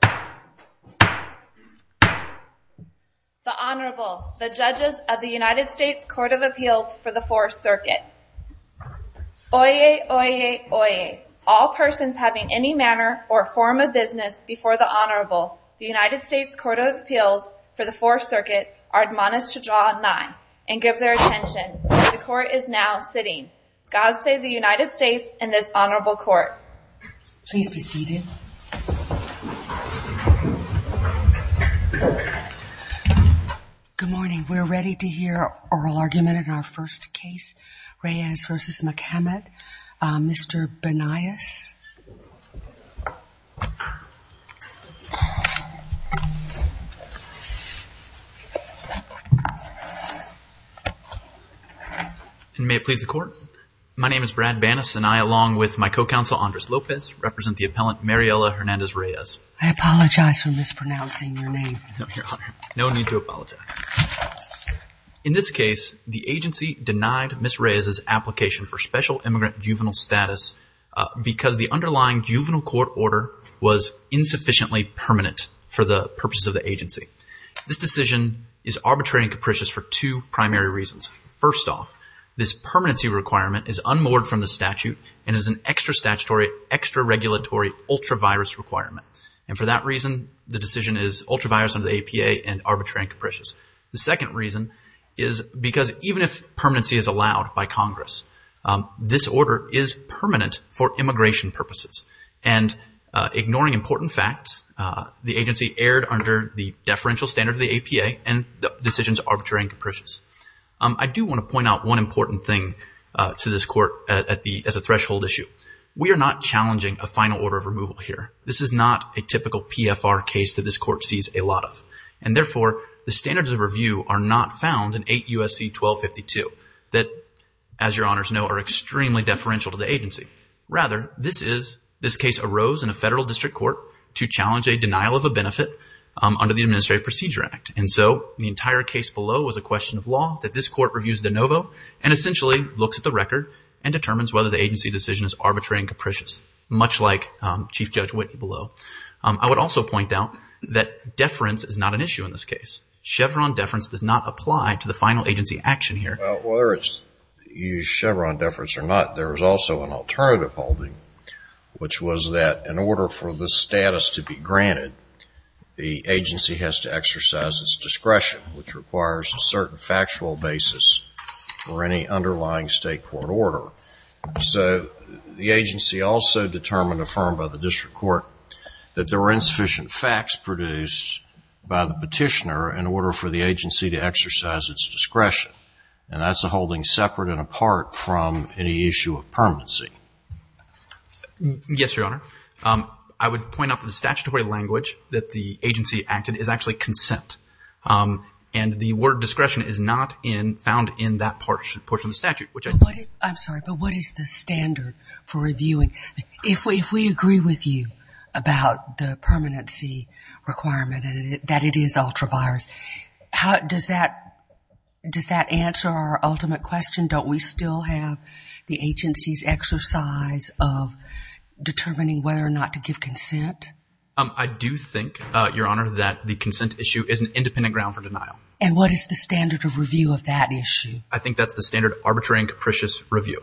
The Honorable, the Judges of the United States Court of Appeals for the Fourth Circuit. Oyez, oyez, oyez, all persons having any manner or form of business before the Honorable, the United States Court of Appeals for the Fourth Circuit, are admonished to draw a nine and give their attention, for the Court is now sitting. God save the United States and this Honorable Court. Please be seated. Good morning. We're ready to hear oral argument in our first case, Reyes v. McCament. Mr. Banais. May it please the Court. My name is Brad Banais and I, along with my co-counsel Andres Lopez, represent the appellant Mariela Hernandez Reyes. I apologize for mispronouncing your name. No need to apologize. In this case, the agency denied Ms. Reyes' application for special immigrant juvenile status because the underlying juvenile court order was insufficiently permanent for the purposes of the agency. This decision is arbitrary and capricious for two primary reasons. First off, this permanency requirement is unmoored from the statute and is an extra statutory, extra regulatory, ultra-virus requirement. And for that reason, the decision is ultra-virus under the APA and arbitrary and capricious. The second reason is because even if permanency is allowed by Congress, this order is permanent for immigration purposes. And ignoring important facts, the agency erred under the deferential standard of the APA and the decision is arbitrary and capricious. I do want to point out one important thing to this court as a threshold issue. We are not challenging a final order of removal here. This is not a typical PFR case that this court sees a lot of. And therefore, the standards of review are not found in 8 U.S.C. 1252 that, as your honors know, are extremely deferential to the agency. Rather, this case arose in a federal district court to challenge a denial of a benefit under the Administrative Procedure Act. And so the entire case below is a question of law that this court reviews de novo and essentially looks at the record and determines whether the agency decision is arbitrary and capricious, much like Chief Judge Whitney below. I would also point out that deference is not an issue in this case. Chevron deference does not apply to the final agency action here. Well, whether it's used Chevron deference or not, there is also an alternative holding, which was that in order for the status to be granted, the agency has to exercise its discretion, which requires a certain factual basis for any underlying state court order. So the agency also determined, affirmed by the district court, that there were insufficient facts produced by the petitioner in order for the agency to exercise its discretion. And that's a holding separate and apart from any issue of permanency. Yes, Your Honor. I would point out that the statutory language that the agency acted is actually consent. And the word discretion is not found in that portion of the statute. I'm sorry, but what is the standard for reviewing? If we agree with you about the permanency requirement and that it is ultra-virus, does that answer our ultimate question? Don't we still have the agency's exercise of determining whether or not to give consent? I do think, Your Honor, that the consent issue is an independent ground for denial. And what is the standard of review of that issue? I think that's the standard arbitrary and capricious review.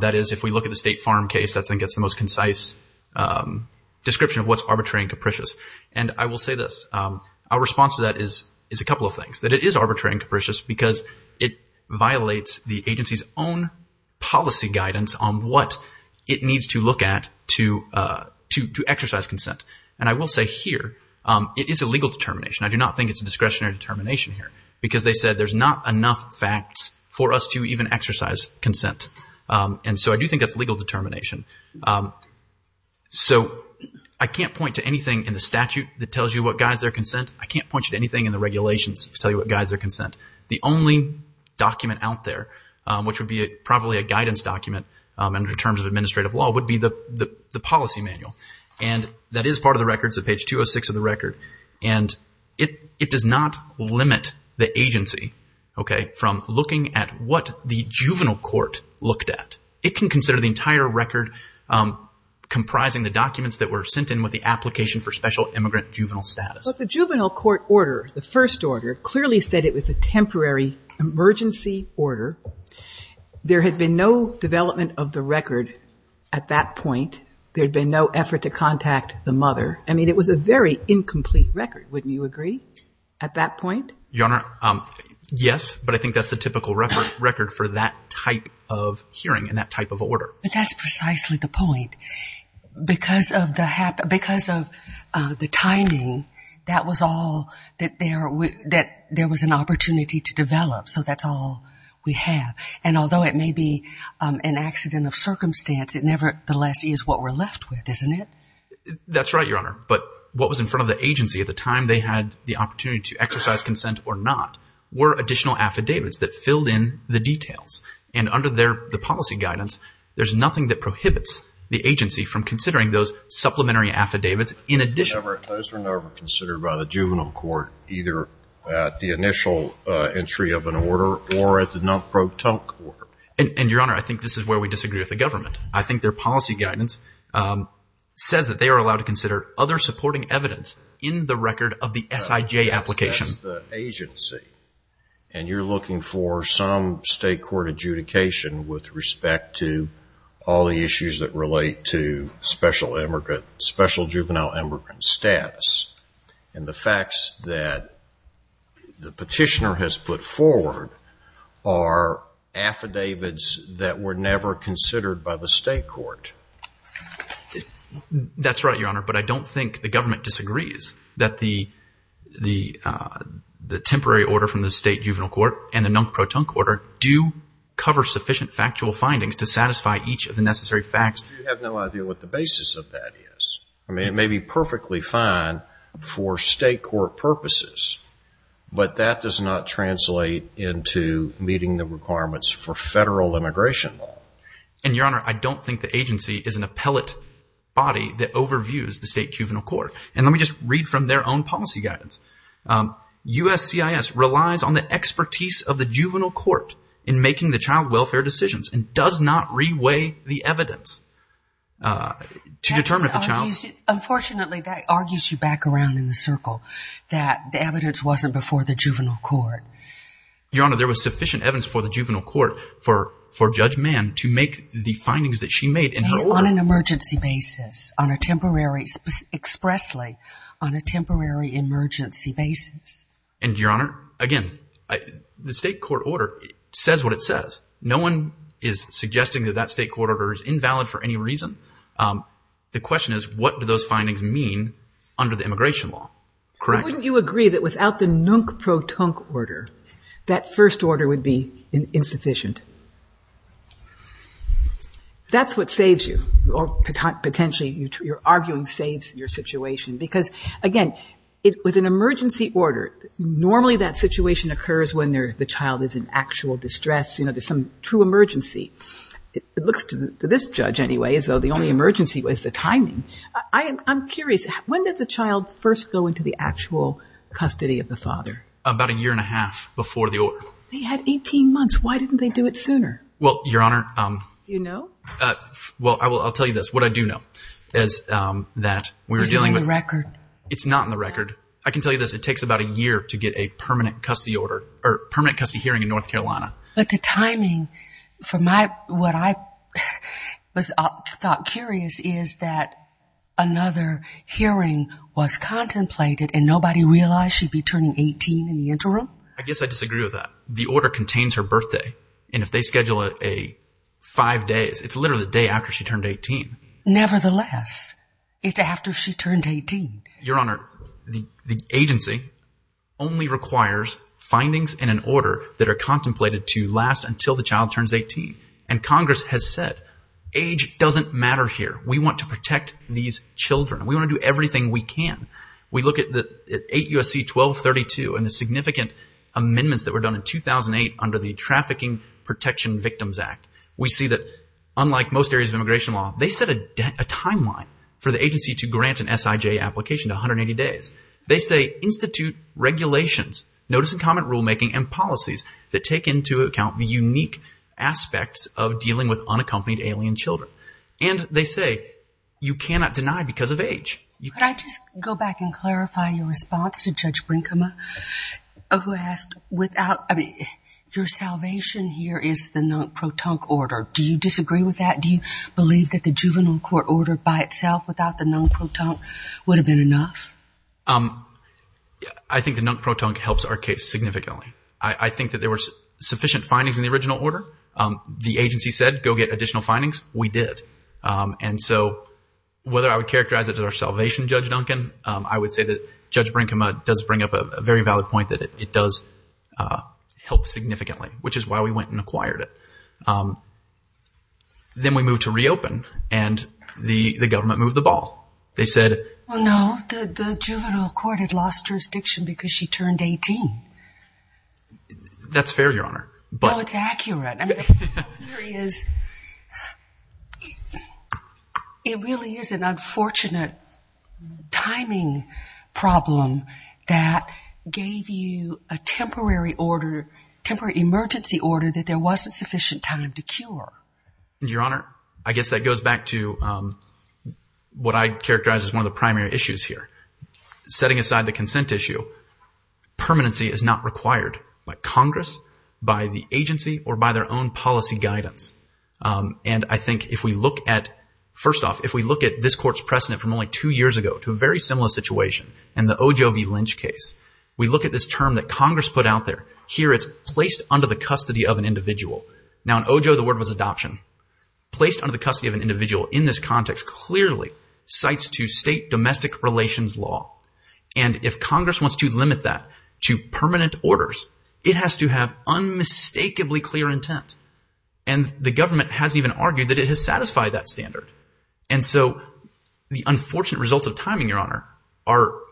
That is, if we look at the State Farm case, I think that's the most concise description of what's arbitrary and capricious. And I will say this, our response to that is a couple of things, that it is arbitrary and capricious because it violates the agency's own policy guidance on what it needs to look at to exercise consent. And I will say here, it is a legal determination. I do not think it's a discretionary determination here because they said there's not enough facts for us to even exercise consent. And so I do think that's legal determination. So I can't point to anything in the statute that tells you what guides their consent. I can't point you to anything in the regulations to tell you what guides their consent. The only document out there, which would be probably a guidance document in terms of administrative law, would be the policy manual. And that is part of the records at page 206 of the record. And it does not limit the agency, okay, from looking at what the juvenile court looked at. It can consider the entire record comprising the documents that were sent in with the application for special immigrant juvenile status. But the juvenile court order, the first order, clearly said it was a temporary emergency order. There had been no development of the record at that point. There had been no effort to contact the mother. I mean, it was a very incomplete record, wouldn't you agree, at that point? Your Honor, yes, but I think that's the typical record for that type of hearing and that type of order. But that's precisely the point. Because of the timing, that was all that there was an opportunity to develop. So that's all we have. And although it may be an accident of circumstance, it nevertheless is what we're left with, isn't it? That's right, Your Honor. But what was in front of the agency at the time they had the opportunity to exercise consent or not were additional affidavits that filled in the details. And under the policy guidance, there's nothing that prohibits the agency from considering those supplementary affidavits in addition. Those were never considered by the juvenile court, either at the initial entry of an order or at the non-protonc order. And, Your Honor, I think this is where we disagree with the government. I think their policy guidance says that they are allowed to consider other supporting evidence in the record of the SIJ application. But this is the agency, and you're looking for some state court adjudication with respect to all the issues that relate to special juvenile immigrant status. And the facts that the petitioner has put forward are affidavits that were never considered by the state court. That's right, Your Honor. But I don't think the government disagrees that the temporary order from the state juvenile court and the non-protonc order do cover sufficient factual findings to satisfy each of the necessary facts. I have no idea what the basis of that is. I mean, it may be perfectly fine for state court purposes, but that does not translate into meeting the requirements for federal immigration law. And, Your Honor, I don't think the agency is an appellate body that overviews the state juvenile court. And let me just read from their own policy guidance. USCIS relies on the expertise of the juvenile court in making the child welfare decisions and does not reweigh the evidence to determine if the child... Unfortunately, that argues you back around in the circle that the evidence wasn't before the juvenile court. Your Honor, there was sufficient evidence before the juvenile court for Judge Mann to make the findings that she made in her order... On an emergency basis, on a temporary... expressly on a temporary emergency basis. And, Your Honor, again, the state court order says what it says. No one is suggesting that that state court order is invalid for any reason. The question is, what do those findings mean under the immigration law? Correct. But wouldn't you agree that without the nunc protunc order, that first order would be insufficient? That's what saves you, or potentially your arguing saves your situation, because, again, with an emergency order, normally that situation occurs when the child is in actual distress, you know, there's some true emergency. It looks to this judge, anyway, as though the only emergency was the timing. I'm curious. When did the child first go into the actual custody of the father? About a year and a half before the order. They had 18 months. Why didn't they do it sooner? Well, Your Honor... Do you know? Well, I'll tell you this. What I do know is that we were dealing with... Is it on the record? It's not on the record. I can tell you this. It takes about a year to get a permanent custody hearing in North Carolina. But the timing, from what I thought curious, is that another hearing was contemplated and nobody realized she'd be turning 18 in the interim? I guess I disagree with that. The order contains her birthday, and if they schedule a five days, it's literally the day after she turned 18. Nevertheless, it's after she turned 18. Your Honor, the agency only requires findings in an order that are contemplated to last until the child turns 18. And Congress has said, age doesn't matter here. We want to protect these children. We want to do everything we can. We look at 8 U.S.C. 1232 and the significant amendments that were done in 2008 under the Trafficking Protection Victims Act. We see that, unlike most areas of immigration law, they set a timeline for the agency to grant an SIJ application to 180 days. They say institute regulations, notice and comment rulemaking, and policies that take into account the unique aspects of dealing with unaccompanied alien children. And they say you cannot deny because of age. Could I just go back and clarify your response to Judge Brinkema, who asked without, I mean, your salvation here is the non-protonc order. Do you disagree with that? Do you believe that the juvenile court order by itself without the non-protonc would have been enough? I think the non-protonc helps our case significantly. I think that there were sufficient findings in the original order. The agency said go get additional findings. We did. And so whether I would characterize it as our salvation, Judge Duncan, I would say that Judge Brinkema does bring up a very valid point that it does help significantly, which is why we went and acquired it. Then we moved to reopen, and the government moved the ball. They said... Well, no. The juvenile court had lost jurisdiction because she turned 18. That's fair, Your Honor. No, it's accurate. I mean, the theory is it really is an unfortunate timing problem that gave you a temporary order, temporary emergency order, that there wasn't sufficient time to cure. Your Honor, I guess that goes back to what I'd characterize as one of the primary issues here. Setting aside the consent issue, permanency is not required by Congress, by the agency, or by their own policy guidance. And I think if we look at, first off, if we look at this court's precedent from only two years ago to a very similar situation in the O. J. O. V. Lynch case, we look at this term that Congress put out there, here it's placed under the custody of an individual. Now, in O. J. O., the word was adoption. Placed under the custody of an individual in this context clearly cites to state domestic relations law. And if Congress wants to limit that to permanent orders, it has to have unmistakably clear intent. And the government hasn't even argued And so the unfortunate results of timing, Your Honor,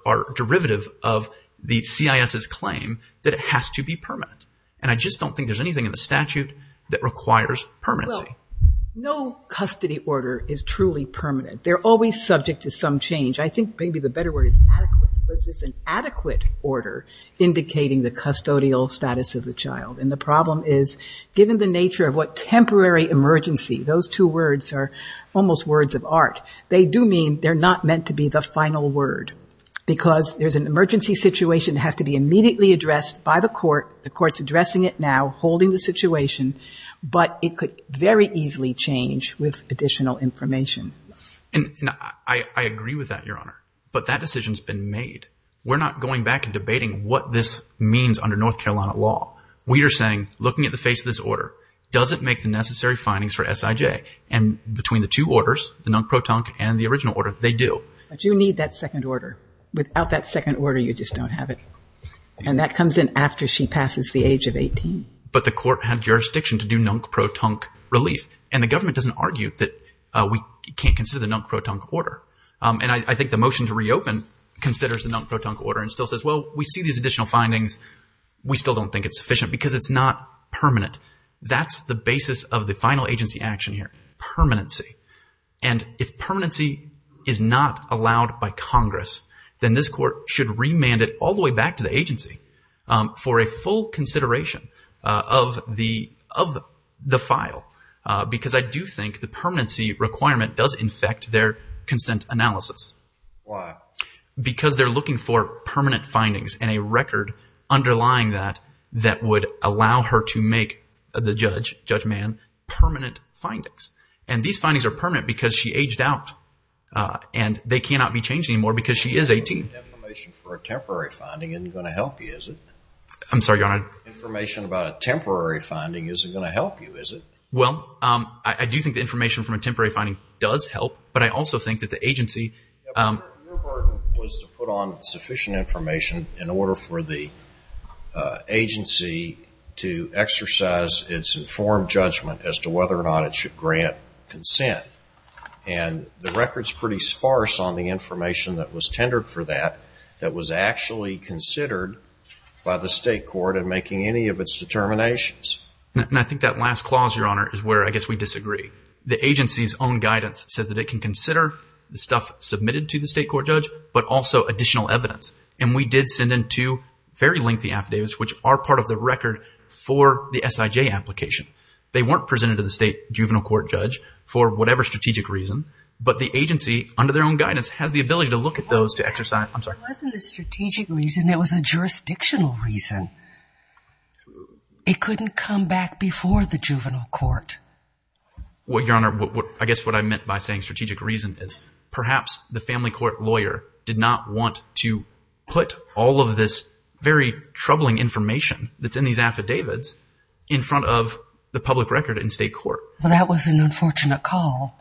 are derivative of the CIS's claim that it has to be permanent. And I just don't think there's anything in the statute that requires permanency. Well, no custody order is truly permanent. They're always subject to some change. I think maybe the better word is adequate. Was this an adequate order indicating the custodial status of the child? And the problem is, given the nature of what temporary emergency, those two words are almost words of art, they do mean they're not meant to be the final word. Because there's an emergency situation that has to be immediately addressed by the court. The court's addressing it now, holding the situation. But it could very easily change with additional information. And I agree with that, Your Honor. But that decision's been made. We're not going back and debating what this means under North Carolina law. We are saying, looking at the face of this order, does it make the necessary findings for S.I.J.? And between the two orders, the nunc pro tonc, and the original order, they do. But you need that second order. Without that second order, you just don't have it. And that comes in after she passes the age of 18. But the court had jurisdiction to do nunc pro tonc relief. And the government doesn't argue that we can't consider the nunc pro tonc order. And I think the motion to reopen considers the nunc pro tonc order and still says, well, we see these additional findings. We still don't think it's sufficient because it's not permanent. That's the basis of the final agency action here, permanency. And if permanency is not allowed by Congress, then this court should remand it all the way back to the agency for a full consideration of the file. Because I do think the permanency requirement does infect their consent analysis. Why? Because they're looking for permanent findings and a record underlying that that would allow her to make the judge, Judge Mann, permanent findings. And these findings are permanent because she aged out. And they cannot be changed anymore because she is 18. Information for a temporary finding isn't going to help you, is it? I'm sorry, Your Honor. Information about a temporary finding isn't going to help you, is it? Well, I do think the information from a temporary finding does help. But I also think that the agency... Your burden was to put on sufficient information in order for the agency to exercise its informed judgment as to whether or not it should grant consent. And the record's pretty sparse on the information that was tendered for that that was actually considered by the state court in making any of its determinations. And I think that last clause, Your Honor, is where I guess we disagree. The agency's own guidance says that it can consider the stuff submitted to the state court judge, but also additional evidence. And we did send in two very lengthy affidavits, which are part of the record for the SIJ application. They weren't presented to the state juvenile court judge for whatever strategic reason, but the agency, under their own guidance, has the ability to look at those to exercise... It wasn't a strategic reason. It was a jurisdictional reason. It couldn't come back before the juvenile court. Well, Your Honor, I guess what I meant by saying strategic reason is perhaps the family court lawyer did not want to put all of this very troubling information that's in these affidavits in front of the public record in state court. Well, that was an unfortunate call.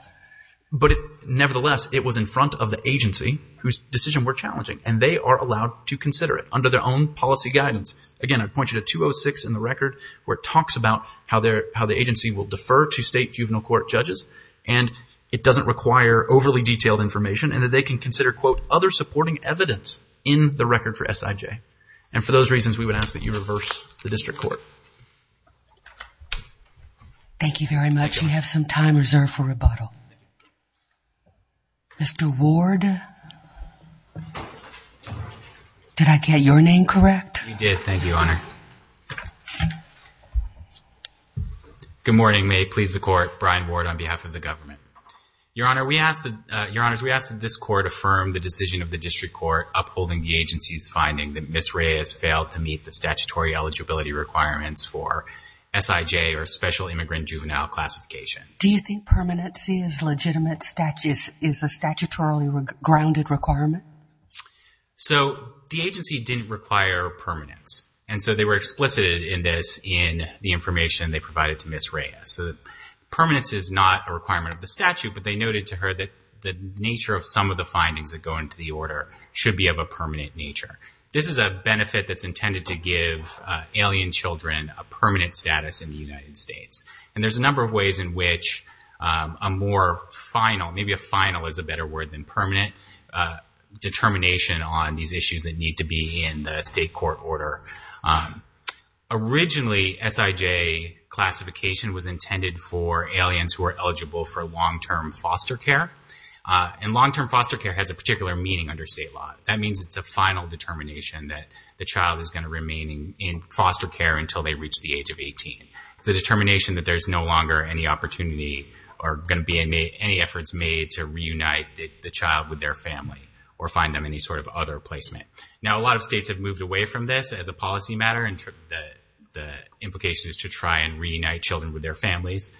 But nevertheless, it was in front of the agency whose decision we're challenging, and they are allowed to consider it under their own policy guidance. Again, I'd point you to 206 in the record where it talks about how the agency will defer to state juvenile court judges, and it doesn't require overly detailed information, and that they can consider, quote, other supporting evidence in the record for SIJ. And for those reasons, we would ask that you reverse the district court. Thank you very much. We have some time reserved for rebuttal. Mr. Ward? Did I get your name correct? You did. Thank you, Your Honor. Good morning. May it please the Court, Brian Ward on behalf of the government. Your Honor, we ask that this court affirm the decision of the district court upholding the agency's finding that Ms. Reyes failed to meet the statutory eligibility requirements for SIJ or special immigrant juvenile classification. Do you think permanency is a statutorily grounded requirement? So the agency didn't require permanence, and so they were explicit in this in the information they provided to Ms. Reyes. So permanence is not a requirement of the statute, but they noted to her that the nature of some of the findings that go into the order should be of a permanent nature. This is a benefit that's intended to give alien children a permanent status in the United States. And there's a number of ways in which a more final, maybe a final is a better word than permanent, determination on these issues that need to be in the state court order. Originally, SIJ classification was intended for aliens who are eligible for long-term foster care. And long-term foster care has a particular meaning under state law. That means it's a final determination that the child is going to remain in foster care until they reach the age of 18. It's a determination that there's no longer any opportunity or going to be any efforts made to reunite the child with their family or find them any sort of other placement. Now, a lot of states have moved away from this as a policy matter. The implication is to try and reunite children with their families.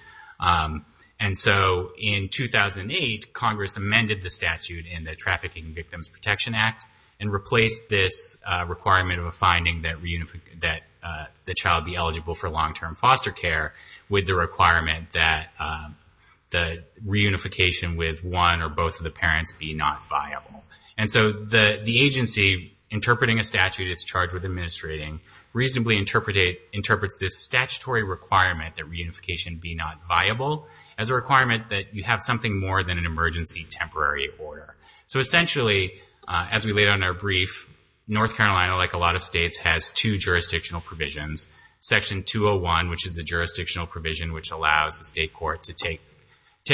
And so in 2008, Congress amended the statute in the Trafficking Victims Protection Act and replaced this requirement of a finding that the child be eligible for long-term foster care with the requirement that the reunification with one or both of the parents be not viable. And so the agency interpreting a statute, it's charged with administrating, reasonably interprets this statutory requirement that reunification be not viable as a requirement that you have something more than an emergency temporary order. So essentially, as we laid out in our brief, North Carolina, like a lot of states, has two jurisdictional provisions. Section 201, which is a jurisdictional provision which allows the state court to take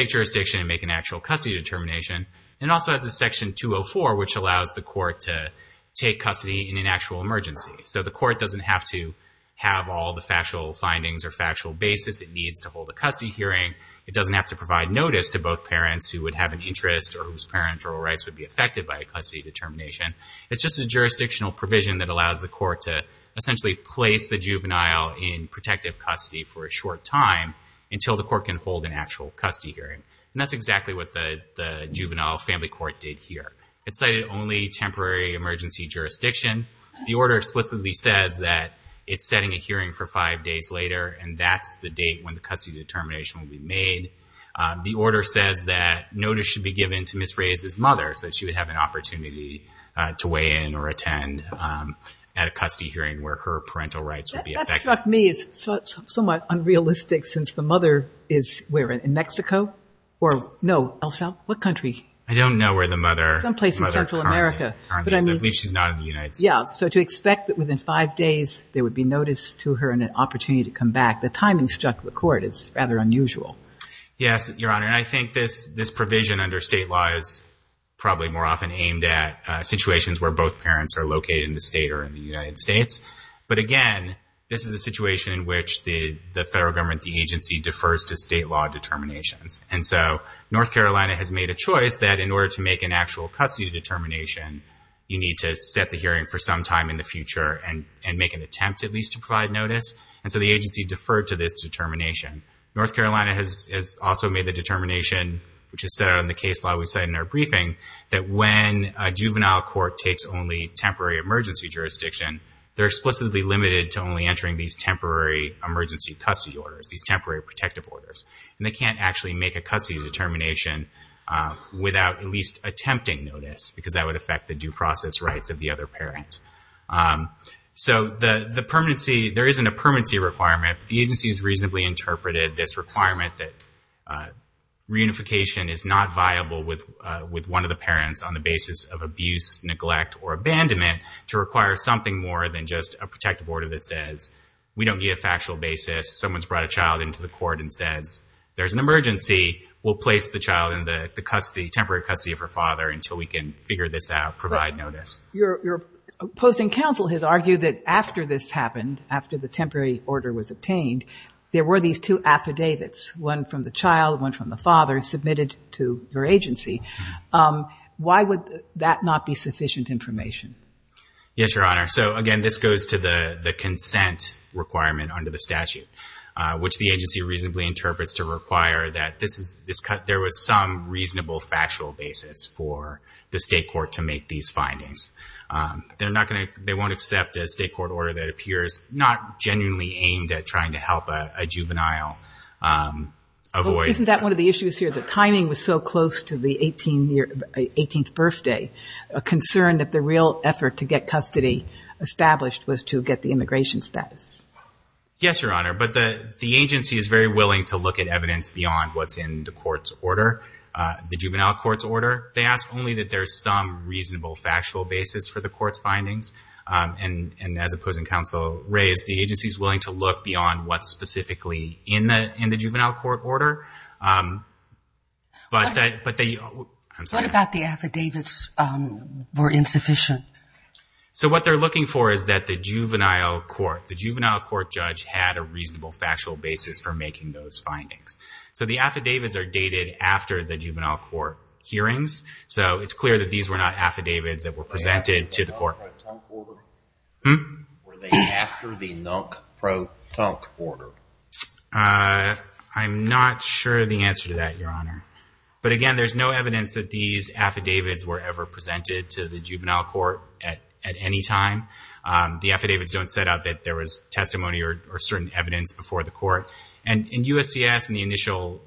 jurisdiction and make an actual custody determination. And it also has a section 204, which allows the court to take custody in an actual emergency. So the court doesn't have to have all the factual findings or factual basis it needs to hold a custody hearing. It doesn't have to provide notice to both parents who would have an interest or whose parents or rights would be affected by a custody determination. It's just a jurisdictional provision that allows the court to essentially place the juvenile in protective custody for a short time until the court can hold an actual custody hearing. And that's exactly what the juvenile family court did here. It cited only temporary emergency jurisdiction. The order explicitly says that it's setting a hearing for five days later, and that's the date when the custody determination will be made. The order says that notice should be given to Ms. Reyes' mother so she would have an opportunity to weigh in or attend at a custody hearing where her parental rights would be affected. The timing struck me as somewhat unrealistic since the mother is where, in Mexico? Or no, El Salvador? What country? I don't know where the mother is. Someplace in Central America. I believe she's not in the United States. Yeah. So to expect that within five days there would be notice to her and an opportunity to come back, the timing struck the court is rather unusual. Yes, Your Honor. And I think this provision under state law is probably more often aimed at situations where both parents are located in the state or in the United States. But, again, this is a situation in which the federal government, the agency, defers to state law determinations. And so North Carolina has made a choice that in order to make an actual custody determination, you need to set the hearing for some time in the future and make an attempt at least to provide notice. And so the agency deferred to this determination. North Carolina has also made the determination, which is set out in the case law we cite in our briefing, that when a juvenile court takes only temporary emergency jurisdiction, they're explicitly limited to only entering these temporary emergency custody orders, these temporary protective orders. And they can't actually make a custody determination without at least attempting notice because that would affect the due process rights of the other parent. So the permanency, there isn't a permanency requirement. The agency has reasonably interpreted this requirement that reunification is not viable with one of the parents on the basis of abuse, neglect, or abandonment to require something more than just a protective order that says we don't need a factual basis. Someone's brought a child into the court and says there's an emergency. We'll place the child in the temporary custody of her father until we can figure this out, provide notice. Your opposing counsel has argued that after this happened, after the temporary order was obtained, there were these two affidavits, one from the child, one from the father, submitted to your agency. Why would that not be sufficient information? Yes, Your Honor. So, again, this goes to the consent requirement under the statute, which the agency reasonably interprets to require that there was some reasonable factual basis for the state court to make these findings. They won't accept a state court order that appears not genuinely aimed at trying to help a juvenile avoid. Isn't that one of the issues here? The timing was so close to the 18th birthday, a concern that the real effort to get custody established was to get the immigration status. Yes, Your Honor. But the agency is very willing to look at evidence beyond what's in the court's order, the juvenile court's order. They ask only that there's some reasonable factual basis for the court's findings. And as opposing counsel raised, the agency is willing to look beyond what's specifically in the juvenile court order. What about the affidavits were insufficient? So what they're looking for is that the juvenile court, the juvenile court judge had a reasonable factual basis for making those findings. So the affidavits are dated after the juvenile court hearings. So it's clear that these were not affidavits that were presented to the court. Were they after the NUNC Pro Tunk order? I'm not sure of the answer to that, Your Honor. But again, there's no evidence that these affidavits were ever presented to the juvenile court at any time. The affidavits don't set out that there was testimony or certain evidence before the court. And in USCIS in the initial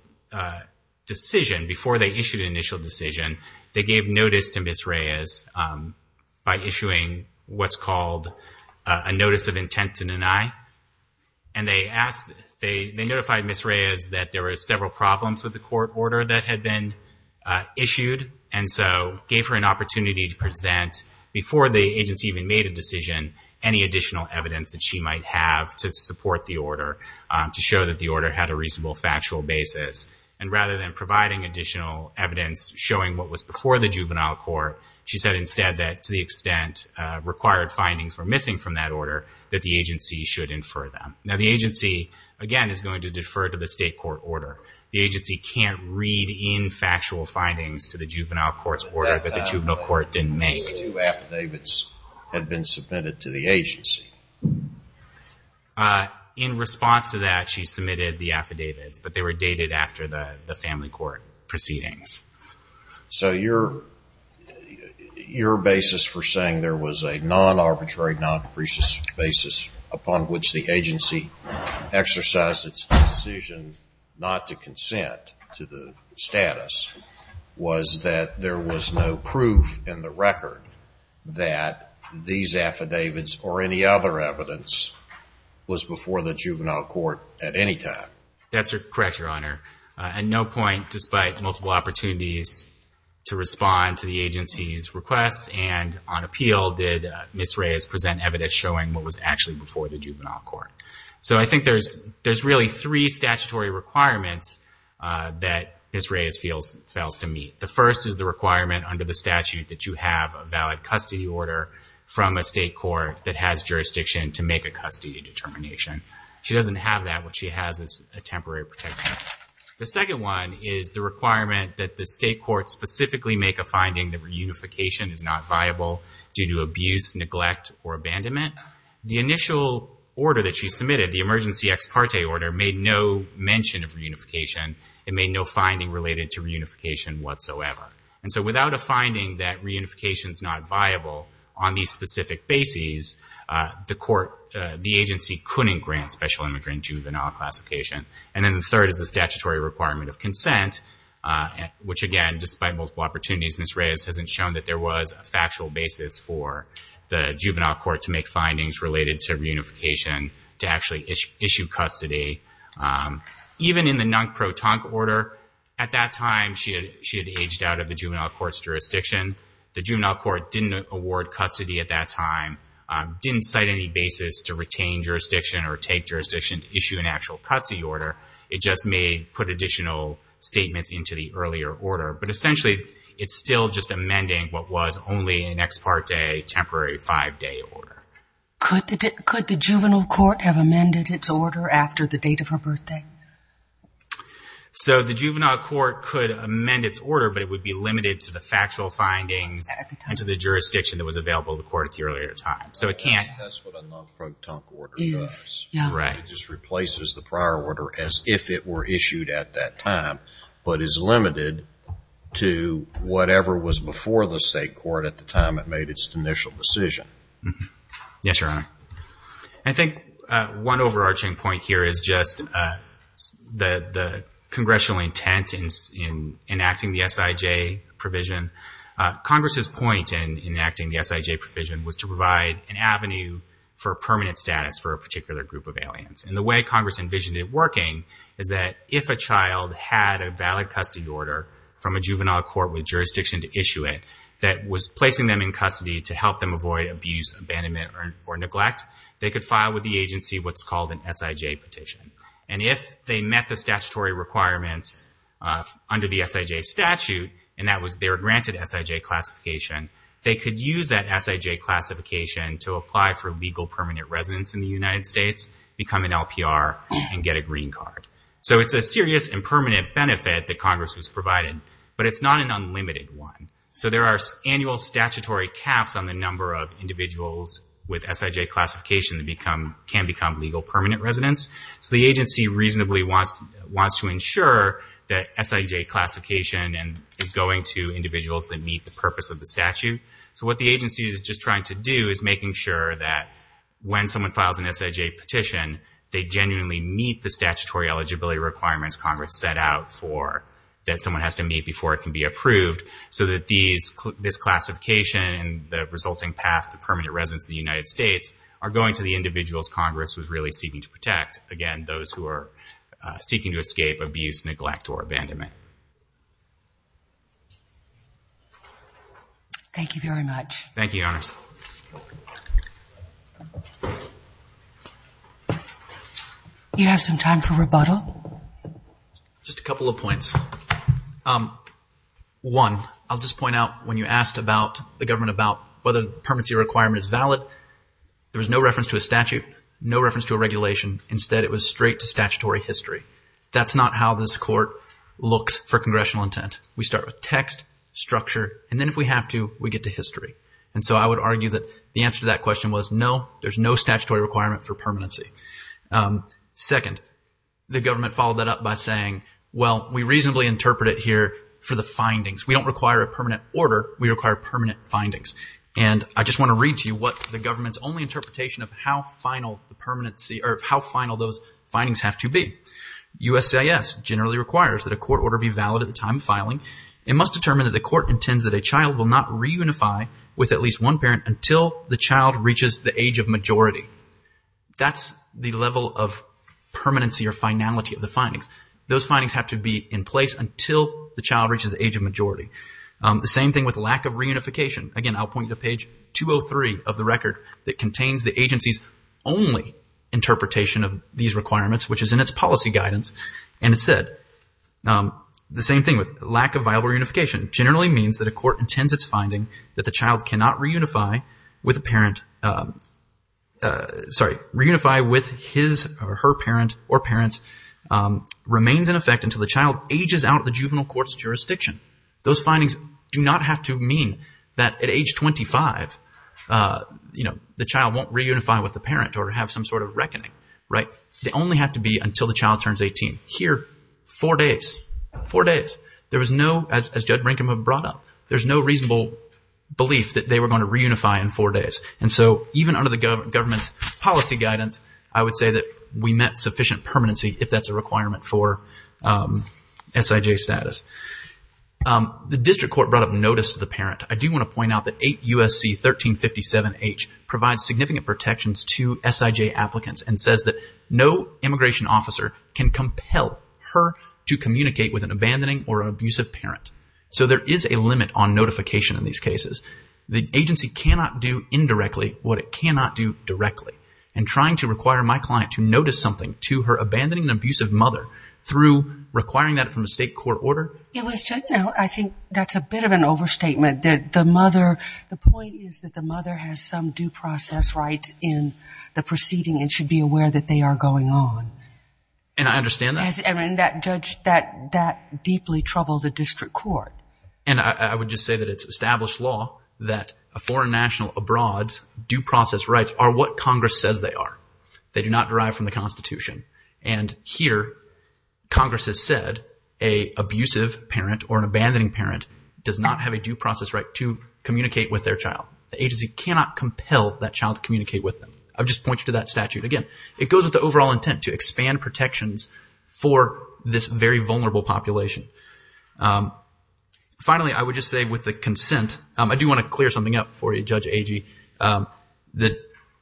decision, before they issued an initial decision, they gave notice to Ms. Reyes by issuing what's called a notice of intent to deny. And they asked, they notified Ms. Reyes that there were several problems with the court order that had been issued. And so gave her an opportunity to present before the agency even made a decision, any additional evidence that she might have to support the order to show that the order had a reasonable factual basis. And rather than providing additional evidence showing what was before the juvenile court, she said instead that to the extent required findings were missing from that Now the agency, again, is going to defer to the state court order. The agency can't read in factual findings to the juvenile court's order that the juvenile court didn't make. These two affidavits had been submitted to the agency. In response to that, she submitted the affidavits, but they were dated after the family court proceedings. So your basis for saying there was a non-arbitrary, non-capricious basis upon which the agency exercised its decision not to consent to the status was that there was no proof in the record that these affidavits or any other evidence was before the juvenile court at any time? That's correct, Your Honor. At no point, despite multiple opportunities to respond to the agency's request and on evidence showing what was actually before the juvenile court. So I think there's really three statutory requirements that Ms. Reyes fails to meet. The first is the requirement under the statute that you have a valid custody order from a state court that has jurisdiction to make a custody determination. She doesn't have that. What she has is a temporary protection. The second one is the requirement that the state court specifically make a custody determination of a juvenile due to abuse, neglect or abandonment. The initial order that she submitted, the emergency ex parte order made no mention of reunification. It made no finding related to reunification whatsoever. And so without a finding that reunification is not viable on these specific bases, the court, the agency couldn't grant special immigrant juvenile classification. And then the third is the statutory requirement of consent, which again, despite multiple opportunities, Ms. Reyes hasn't shown that there was a factual basis for the juvenile court to make findings related to reunification, to actually issue custody. Even in the non-croton order at that time, she had aged out of the juvenile court's jurisdiction. The juvenile court didn't award custody at that time, didn't cite any basis to retain jurisdiction or take jurisdiction to issue an actual custody order. It just may put additional statements into the earlier order, but essentially it's still just amending what was only an ex parte, temporary five-day order. Could the juvenile court have amended its order after the date of her birthday? So the juvenile court could amend its order, but it would be limited to the factual findings and to the jurisdiction that was available to the court at the earlier time. That's what a non-croton order does. It just replaces the prior order as if it were issued at that time, but is limited to whatever was before the state court at the time it made its initial decision. Yes, Your Honor. I think one overarching point here is just the congressional intent in enacting the SIJ provision. Congress's point in enacting the SIJ provision was to provide an avenue for permanent status for a particular group of aliens. And the way Congress envisioned it working is that if a child had a valid custody order from a juvenile court with jurisdiction to issue it that was placing them in custody to help them avoid abuse, abandonment, or neglect, they could file with the agency what's called an SIJ petition. And if they met the statutory requirements under the SIJ statute, and that was their granted SIJ classification, they could use that SIJ classification to apply for legal permanent residence in the United States, become an LPR, and get a green card. So it's a serious and permanent benefit that Congress has provided, but it's not an unlimited one. So there are annual statutory caps on the number of individuals with SIJ classification that can become legal permanent residents. So the agency reasonably wants to ensure that SIJ classification is going to individuals that meet the purpose of the statute. So what the agency is just trying to do is making sure that when someone files an SIJ petition they genuinely meet the statutory eligibility requirements Congress set out for that someone has to meet before it can be approved so that this classification and the resulting path to permanent residence in the United States are going to the individuals Congress was really seeking to protect, again, those who are seeking to escape abuse, neglect, or abandonment. Thank you very much. Thank you, Your Honors. Do you have some time for rebuttal? Just a couple of points. One, I'll just point out when you asked about the government about whether the permanency requirement is valid, there was no reference to a statute, no reference to a regulation. Instead, it was straight to statutory history. That's not how this court looks for congressional intent. We start with text, structure, and then if we have to, we get to history. And so I would argue that the answer to that question was no, there's no statutory requirement for permanency. Second, the government followed that up by saying, well, we reasonably interpret it here for the findings. We don't require a permanent order, we require permanent findings. And I just want to read to you what the government's only interpretation of how final the permanency or how final those findings have to be. USCIS generally requires that a court order be valid at the time of filing and must determine that the court intends that a child will not reunify with at least one parent until the child reaches the age of majority. That's the level of permanency or finality of the findings. Those findings have to be in place until the child reaches the age of majority. The same thing with lack of reunification. Again, I'll point you to page 203 of the record that contains the agency's only interpretation of these requirements, which is in its policy guidance. And it said, the same thing with lack of viable reunification, generally means that a court intends its finding that the child cannot reunify with a parent, sorry, reunify with his or her parent or parents, remains in effect until the child ages out of the juvenile court's jurisdiction. Those findings do not have to mean that at age 25, you know, the child won't reunify with the parent or have some sort of reckoning, right? They only have to be until the child turns 18. Here, four days, four days. There was no, as Judge Rinkum had brought up, there's no reasonable belief that they were going to reunify in four days. And so even under the government's policy guidance, I would say that we met sufficient permanency if that's a requirement for SIJ status. The district court brought up notice to the parent. I do want to point out that 8 U.S.C. 1357H provides significant protections to SIJ applicants and says that no immigration officer can compel her to communicate with an abandoning or abusive parent. So there is a limit on notification in these cases. The agency cannot do indirectly what it cannot do directly. And trying to require my client to notice something to her abandoning and abusive mother through requiring that from a state court order? I think that's a bit of an overstatement that the mother, the point is that the mother has some due process rights in the proceeding and should be aware that they are going on. And I understand that. And that deeply troubled the district court. And I would just say that it's established law that a foreign national abroad's due process rights are what Congress says they are. They do not derive from the Constitution. And here Congress has said a abusive parent or an abandoning parent does not have a due process right to communicate with their child. The agency cannot compel that child to communicate with them. I just point you to that statute. Again, it goes with the overall intent to expand protections for this very vulnerable population. Finally, I would just say with the consent, I do want to clear something up for you, Judge Agee.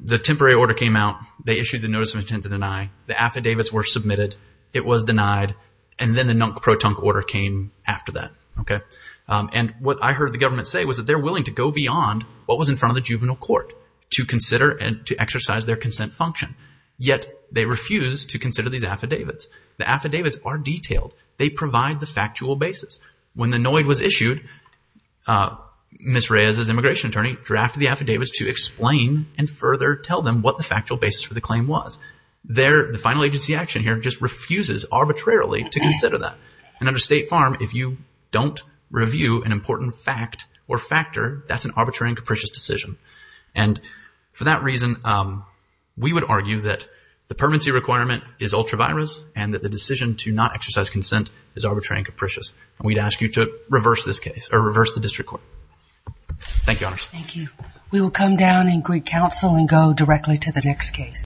The temporary order came out. They issued the notice of intent to deny. The affidavits were submitted. It was denied. And then the non-proton order came after that. And what I heard the government say was that they're willing to go beyond what was in front of the juvenile court to consider and to exercise their consent function. Yet they refuse to consider these affidavits. The affidavits are detailed. They provide the factual basis. When the NOID was issued, Ms. Reyes, as immigration attorney, drafted the affidavits to explain and further tell them what the factual basis for the claim was. The final agency action here just refuses arbitrarily to consider that. And under State Farm, if you don't review an important fact or factor, that's an arbitrary and capricious decision. And for that reason, we would argue that the permanency requirement is ultra-virus and that the decision to not exercise consent is arbitrary and capricious. And we'd ask you to reverse this case or reverse the district court. Thank you, Honors. Thank you. We will come down and greet counsel and go directly to the next case.